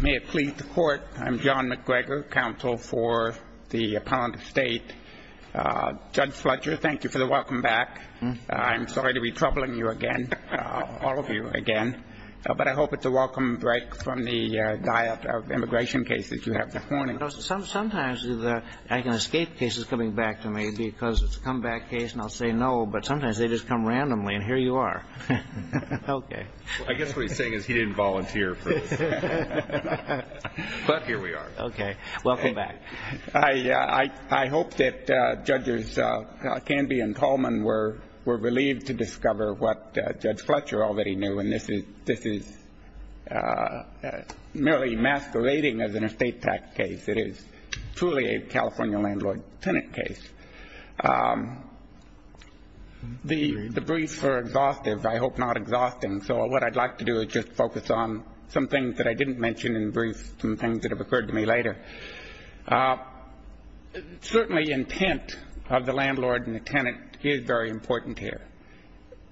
May it please the Court, I'm John McGregor, Counsel for the Appellant Estate. Judge Fletcher, thank you for the welcome back. I'm sorry to be troubling you again, all of you again. But I hope it's a welcome break from the diet of immigration cases you have this morning. Sometimes I can escape cases coming back to me because it's a comeback case and I'll say no, but sometimes they just come randomly and here you are. Okay. I guess what he's saying is he didn't volunteer for this. But here we are. Okay. Welcome back. I hope that Judges Canby and Tolman were relieved to discover what Judge Fletcher already knew and this is merely emasculating as an estate tax case. It is truly a California landlord-tenant case. The briefs are exhaustive, I hope not exhausting, so what I'd like to do is just focus on some things that I didn't mention in brief, some things that have occurred to me later. Certainly intent of the landlord and the tenant is very important here.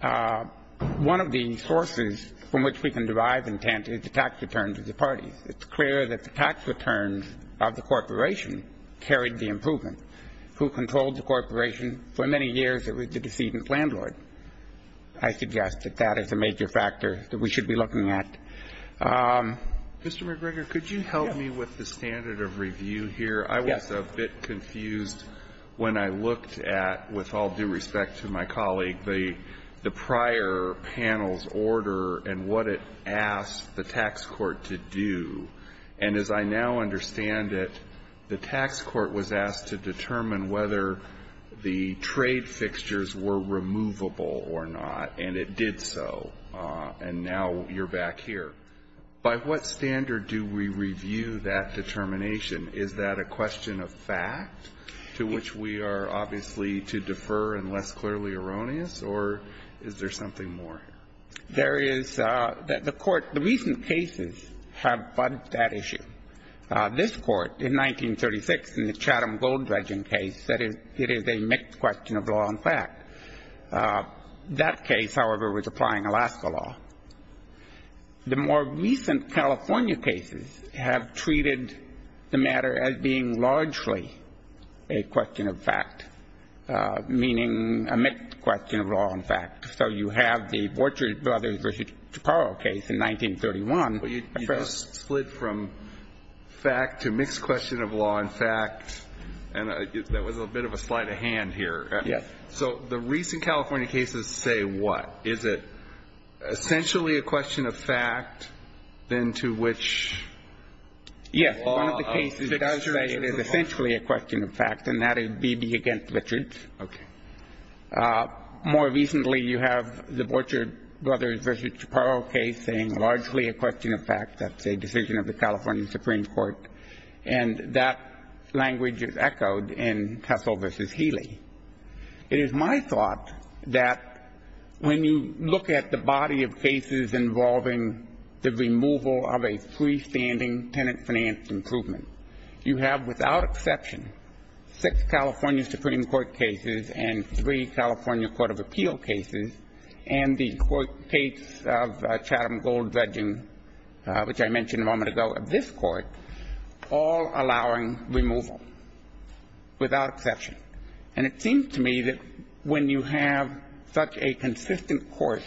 One of the sources from which we can derive intent is the tax returns of the parties. It's clear that the tax returns of the corporation carried the improvement. Who controlled the corporation? For many years it was the decedent landlord. I suggest that that is a major factor that we should be looking at. Mr. McGregor, could you help me with the standard of review here? Yes. I was a bit confused when I looked at, with all due respect to my colleague, the prior panel's order and what it asked the tax court to do. And as I now understand it, the tax court was asked to determine whether the trade fixtures were removable or not, and it did so, and now you're back here. By what standard do we review that determination? Is that a question of fact to which we are obviously to defer and less clearly erroneous, or is there something more? There is. The court, the recent cases have budged that issue. This Court in 1936 in the Chatham Gold Dredging case said it is a mixed question of law and fact. That case, however, was applying Alaska law. The more recent California cases have treated the matter as being largely a question of fact, meaning a mixed question of law and fact. So you have the Vortrig brothers v. Chaparro case in 1931. But you just split from fact to mixed question of law and fact, and there was a bit of a slight of hand here. Yes. So the recent California cases say what? Is it essentially a question of fact, then, to which the law of fixed question of law? Yes. One of the cases does say it is essentially a question of fact, and that is Beebe v. Richards. Okay. More recently, you have the Vortrig brothers v. Chaparro case saying largely a question of fact. That's a decision of the California Supreme Court. And that language is echoed in Tessel v. Healey. It is my thought that when you look at the body of cases involving the removal of a freestanding tenant-financed improvement, you have, without exception, six California Supreme Court cases and three California Court of Appeal cases and the court case of Chatham Gold Dredging, which I mentioned a moment ago, of this court, all allowing removal, without exception. And it seems to me that when you have such a consistent course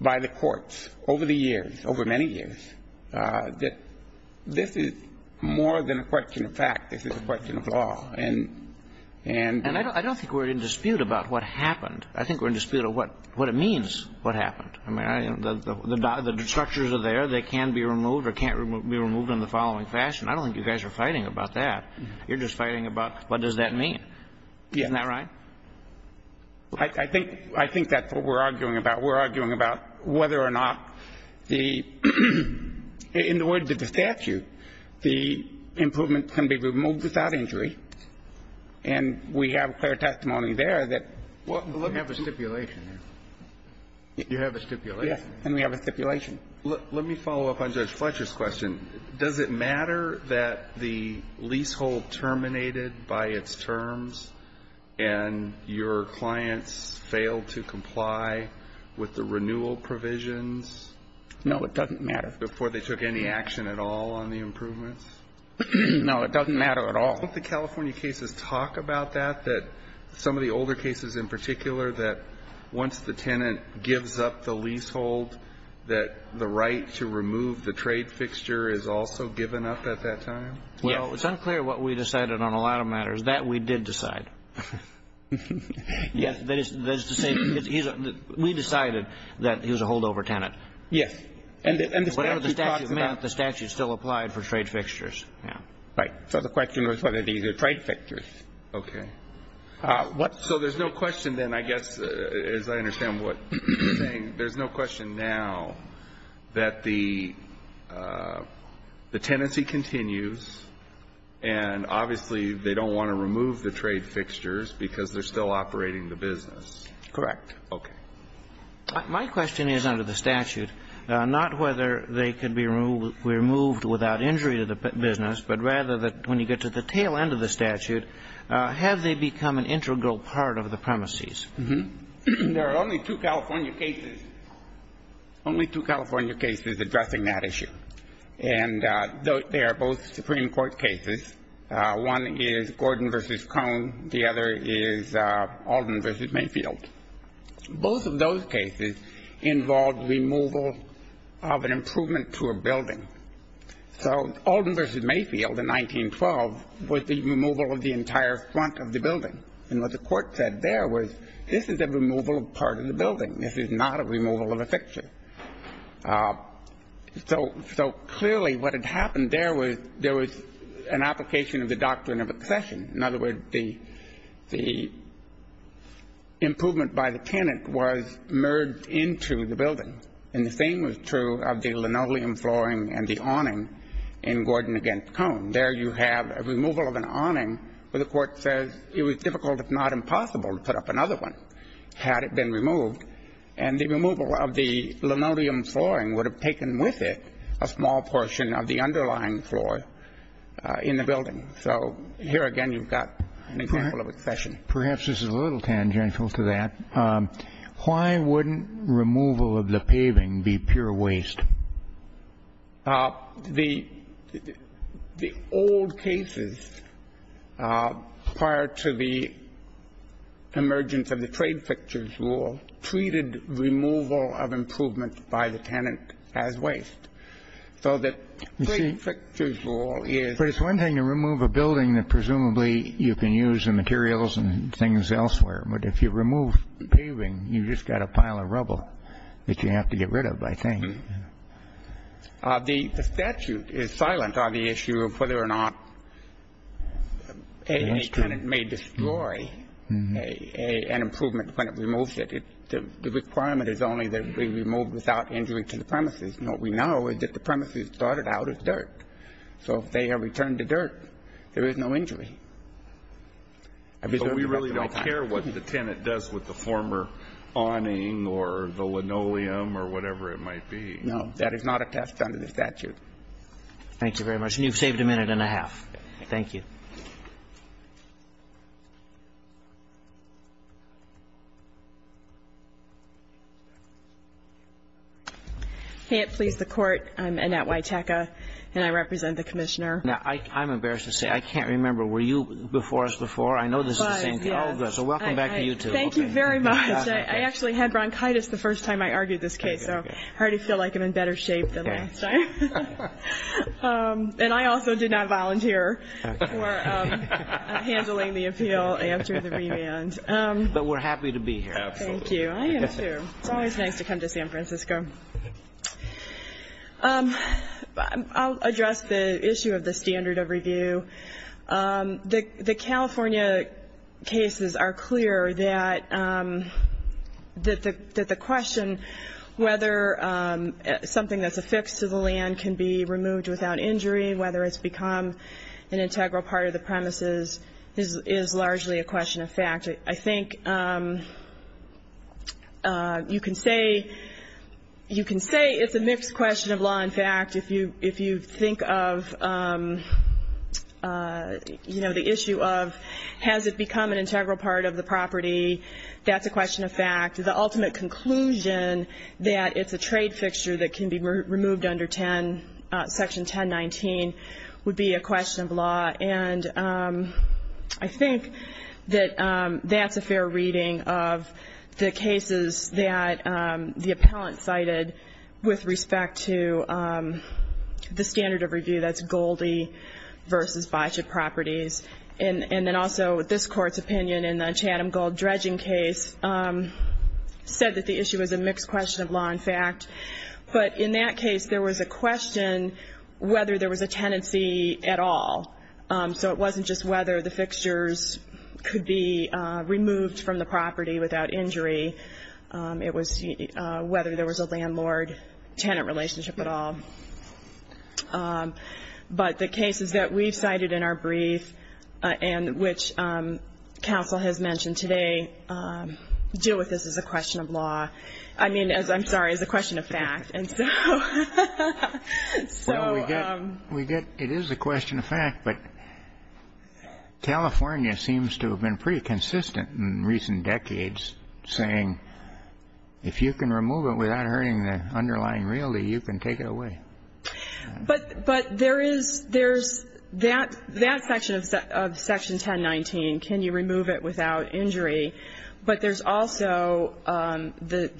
by the courts over the years, over many years, that this is more than a question of fact. This is a question of law. And I don't think we're in dispute about what happened. I think we're in dispute of what it means, what happened. I mean, the structures are there. They can be removed or can't be removed in the following fashion. I don't think you guys are fighting about that. You're just fighting about what does that mean. Yeah. Isn't that right? I think that's what we're arguing about. We're arguing about whether or not the – in the words of the statute, the improvement can be removed without injury. And we have clear testimony there that what we're doing – But you have a stipulation. You have a stipulation. And we have a stipulation. Let me follow up on Judge Fletcher's question. Does it matter that the leasehold terminated by its terms and your clients failed to comply with the renewal provisions? No, it doesn't matter. Before they took any action at all on the improvements? No, it doesn't matter at all. Don't the California cases talk about that, that some of the older cases in particular, that once the tenant gives up the leasehold, that the right to remove the trade fixture is also given up at that time? Yes. Well, it's unclear what we decided on a lot of matters. That we did decide. Yes. That is to say, we decided that he was a holdover tenant. Yes. And the statute talks about – Whatever the statute meant, the statute still applied for trade fixtures. Right. So the question was whether these are trade fixtures. Okay. So there's no question then, I guess, as I understand what you're saying, there's no question now that the tenancy continues and obviously they don't want to remove the trade fixtures because they're still operating the business. Correct. Okay. My question is under the statute, not whether they can be removed without injury to the business, but rather when you get to the tail end of the statute, have they become an integral part of the premises? There are only two California cases, only two California cases addressing that issue. And they are both Supreme Court cases. One is Gordon v. Cone. The other is Alden v. Mayfield. Both of those cases involved removal of an improvement to a building. So Alden v. Mayfield in 1912 was the removal of the entire front of the building. And what the court said there was this is a removal of part of the building. This is not a removal of a fixture. So clearly what had happened there was there was an application of the doctrine of accession. In other words, the improvement by the tenant was merged into the building. And the same was true of the linoleum flooring and the awning in Gordon v. Cone. There you have a removal of an awning where the court says it was difficult, if not impossible, to put up another one had it been removed. And the removal of the linoleum flooring would have taken with it a small portion of the underlying floor in the building. So here again you've got an example of accession. Perhaps this is a little tangential to that. Why wouldn't removal of the paving be pure waste? The old cases prior to the emergence of the trade fixtures rule treated removal of improvement by the tenant as waste. So the trade fixtures rule is... But it's one thing to remove a building that presumably you can use in materials and things elsewhere. But if you remove paving, you've just got a pile of rubble that you have to get rid of, I think. The statute is silent on the issue of whether or not any tenant may destroy an improvement when it removes it. The requirement is only that it be removed without injury to the premises. And what we know is that the premises started out as dirt. So if they are returned to dirt, there is no injury. So we really don't care what the tenant does with the former awning or the linoleum or whatever it might be. No. That is not attached under the statute. Thank you very much. And you've saved a minute and a half. Thank you. I can't please the Court. I'm Annette Witecka, and I represent the Commissioner. Now, I'm embarrassed to say, I can't remember. Were you before us before? I know this is the same. Oh, good. So welcome back to you, too. Thank you very much. I actually had bronchitis the first time I argued this case, so I already feel like I'm in better shape than last time. And I also did not volunteer for handling the appeal after the remand. But we're happy to be here. Thank you. I am, too. It's always nice to come to San Francisco. I'll address the issue of the standard of review. The California cases are clear that the question whether something that's affixed to the land can be removed without injury, whether it's become an integral part of the premises, is largely a question of fact. I think you can say it's a mixed question of law and fact if you think of the issue of, has it become an integral part of the property? That's a question of fact. The ultimate conclusion that it's a trade fixture that can be removed under Section 1019 would be a question of law. And I think that that's a fair reading of the cases that the appellant cited with respect to the standard of review. That's Goldie v. Bychuk Properties. And then also this Court's opinion in the Chatham Gold dredging case said that the issue was a mixed question of law and fact. But in that case, there was a question whether there was a tenancy at all. So it wasn't just whether the fixtures could be removed from the property without injury. It was whether there was a landlord-tenant relationship at all. But the cases that we've cited in our brief and which counsel has mentioned today deal with this as a question of law. I mean, I'm sorry, as a question of fact. And so we get it is a question of fact, but California seems to have been pretty consistent in recent decades, saying if you can remove it without hurting the underlying realty, you can take it away. But there is that section of Section 1019. Can you remove it without injury? But there's also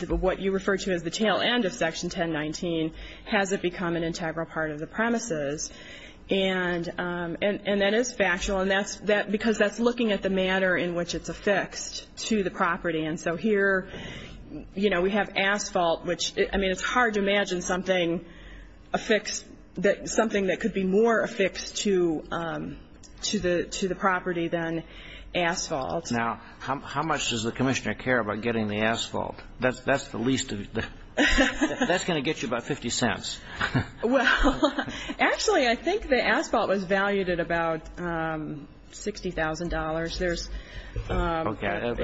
what you refer to as the tail end of Section 1019. Has it become an integral part of the premises? And that is factual because that's looking at the manner in which it's affixed to the property. And so here, you know, we have asphalt, which, I mean, it's hard to imagine something affixed, something that could be more affixed to the property than asphalt. Now, how much does the commissioner care about getting the asphalt? That's the least of the ‑‑ that's going to get you about 50 cents. Well, actually, I think the asphalt was valued at about $60,000. Okay.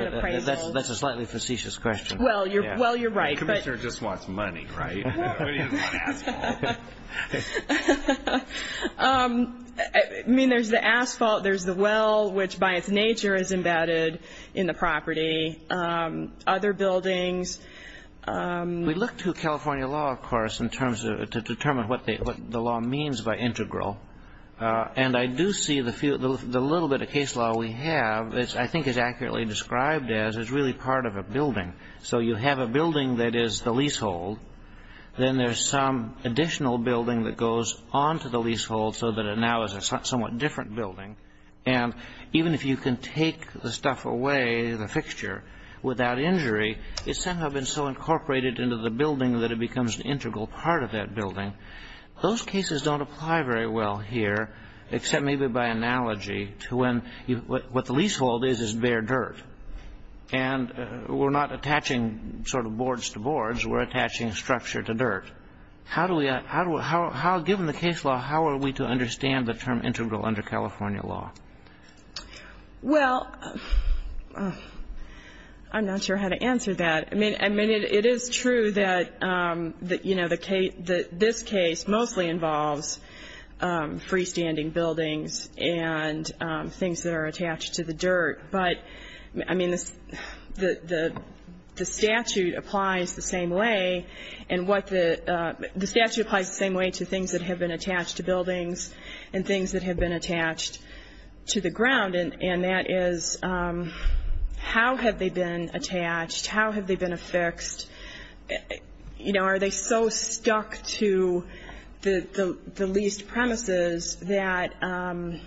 That's a slightly facetious question. Well, you're right. The commissioner just wants money, right? He doesn't want asphalt. I mean, there's the asphalt, there's the well, which by its nature is embedded in the property, other buildings. We look to California law, of course, in terms of to determine what the law means by integral. And I do see the little bit of case law we have, I think is accurately described as, is really part of a building. So you have a building that is the leasehold. Then there's some additional building that goes on to the leasehold so that it now is a somewhat different building. And even if you can take the stuff away, the fixture, without injury, it's somehow been so incorporated into the building that it becomes an integral part of that building. Those cases don't apply very well here, except maybe by analogy to when what the leasehold is is bare dirt. And we're not attaching sort of boards to boards. We're attaching structure to dirt. Given the case law, how are we to understand the term integral under California law? Well, I'm not sure how to answer that. I mean, it is true that this case mostly involves freestanding buildings and things that are attached to the dirt. But, I mean, the statute applies the same way to things that have been attached to buildings and things that have been attached to the ground. And that is, how have they been attached? How have they been affixed? You know, are they so stuck to the leased premises that I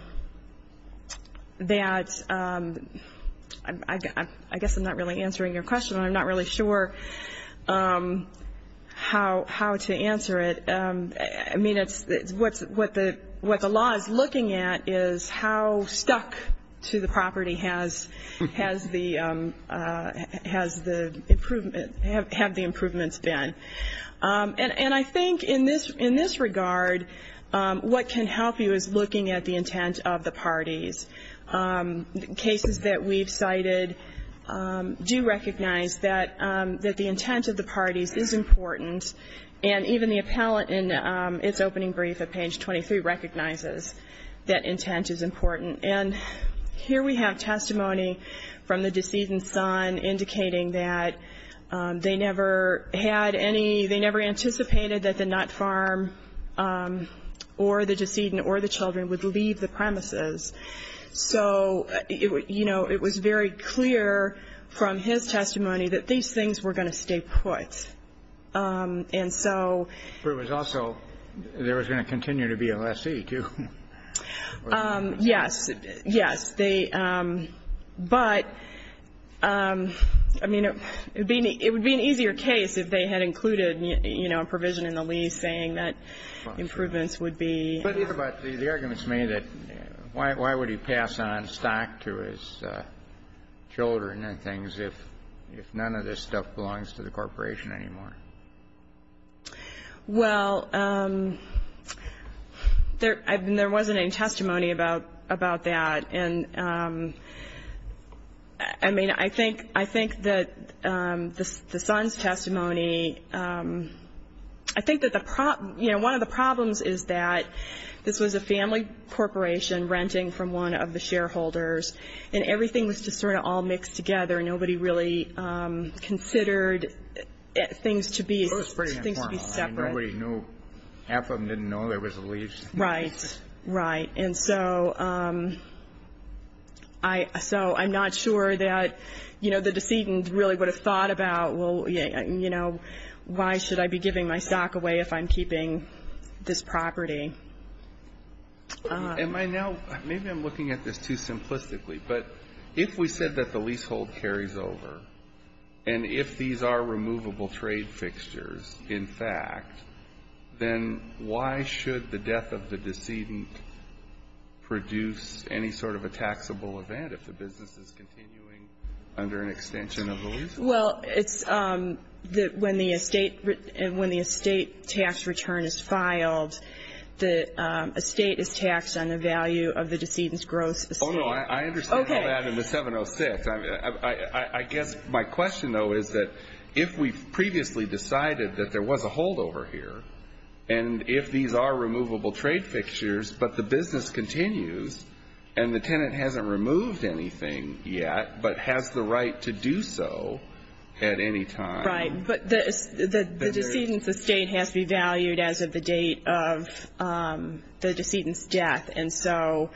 guess I'm not really answering your question. I'm not really sure how to answer it. I mean, what the law is looking at is how stuck to the property have the improvements been. And I think in this regard, what can help you is looking at the intent of the parties. Cases that we've cited do recognize that the intent of the parties is important. And even the appellant in its opening brief at page 23 recognizes that intent is important. And here we have testimony from the decedent's son indicating that they never had any, they never anticipated that the nut farm or the decedent or the children would leave the premises. So, you know, it was very clear from his testimony that these things were going to stay put. And so. But it was also, there was going to continue to be a lessee, too. Yes. Yes. But, I mean, it would be an easier case if they had included, you know, a provision in the lease saying that improvements would be. But the argument is made that why would he pass on stock to his children and things if none of this stuff belongs to the corporation anymore? Well, there wasn't any testimony about that. And, I mean, I think that the son's testimony, I think that the problem, you know, one of the problems is that this was a family corporation renting from one of the shareholders and everything was just sort of all mixed together. Nobody really considered things to be separate. Nobody knew, half of them didn't know there was a lease. Right. Right. And so I'm not sure that, you know, the decedent really would have thought about, well, you know, why should I be giving my stock away if I'm keeping this property? Am I now, maybe I'm looking at this too simplistically. But if we said that the leasehold carries over, and if these are removable trade fixtures, in fact, then why should the death of the decedent produce any sort of a taxable event if the business is continuing under an extension of the leasehold? Well, it's that when the estate tax return is filed, the estate is taxed on the value of the decedent's gross estate. Oh, no, I understand all that in the 706. I guess my question, though, is that if we previously decided that there was a holdover here, and if these are removable trade fixtures, but the business continues and the tenant hasn't removed anything yet but has the right to do so at any time. Right. But the decedent's estate has to be valued as of the date of the decedent's death. And so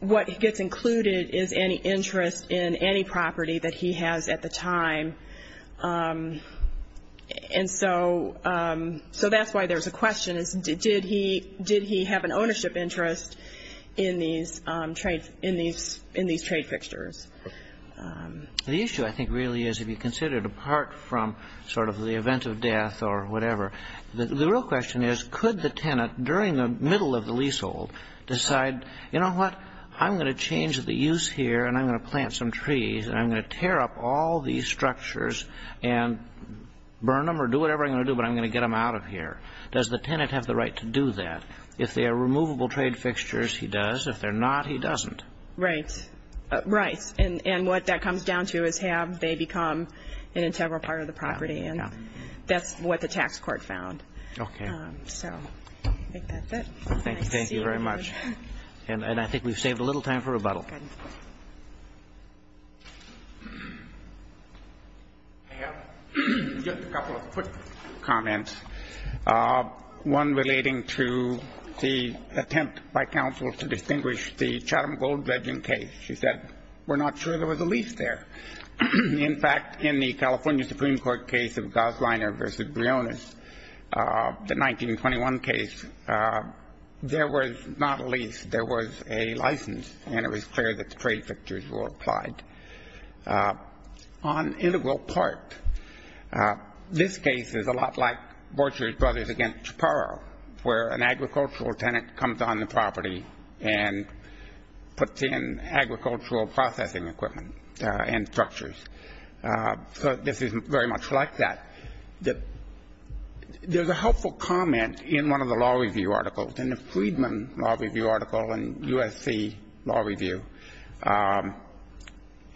what gets included is any interest in any property that he has at the time. And so that's why there's a question. Did he have an ownership interest in these trade fixtures? The issue, I think, really is, if you consider it apart from sort of the event of death or whatever, the real question is could the tenant, during the middle of the leasehold, decide, you know what, I'm going to change the use here, and I'm going to plant some trees, and I'm going to tear up all these structures and burn them or do whatever I'm going to do, but I'm going to get them out of here. Does the tenant have the right to do that? If they are removable trade fixtures, he does. If they're not, he doesn't. Right. Right. And what that comes down to is have they become an integral part of the property, and that's what the tax court found. Okay. So I think that's it. Thank you very much. And I think we've saved a little time for rebuttal. Okay. I have just a couple of quick comments, one relating to the attempt by counsel to distinguish the Chatham Gold Dredging case. She said we're not sure there was a lease there. In fact, in the California Supreme Court case of Gosliner v. Briones, the 1921 case, there was not a lease, there was a license, and it was clear that the trade fixtures were applied. On integral part, this case is a lot like Borchers Brothers v. Chaparro, where an agricultural tenant comes on the property and puts in agricultural processing equipment and structures. So this is very much like that. There's a helpful comment in one of the law review articles, in the Friedman Law Review article in USC Law Review.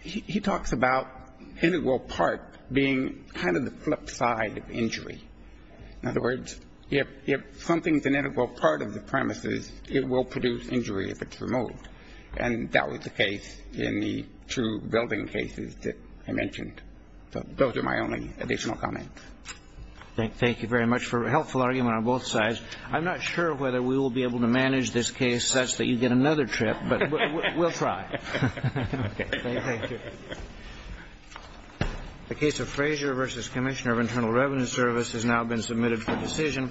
He talks about integral part being kind of the flip side of injury. In other words, if something's an integral part of the premises, it will produce injury if it's removed. And that was the case in the two building cases that I mentioned. Those are my only additional comments. Thank you very much for a helpful argument on both sides. I'm not sure whether we will be able to manage this case such that you get another trip, but we'll try. Thank you. The case of Frazier v. Commissioner of Internal Revenue Service has now been submitted for decision.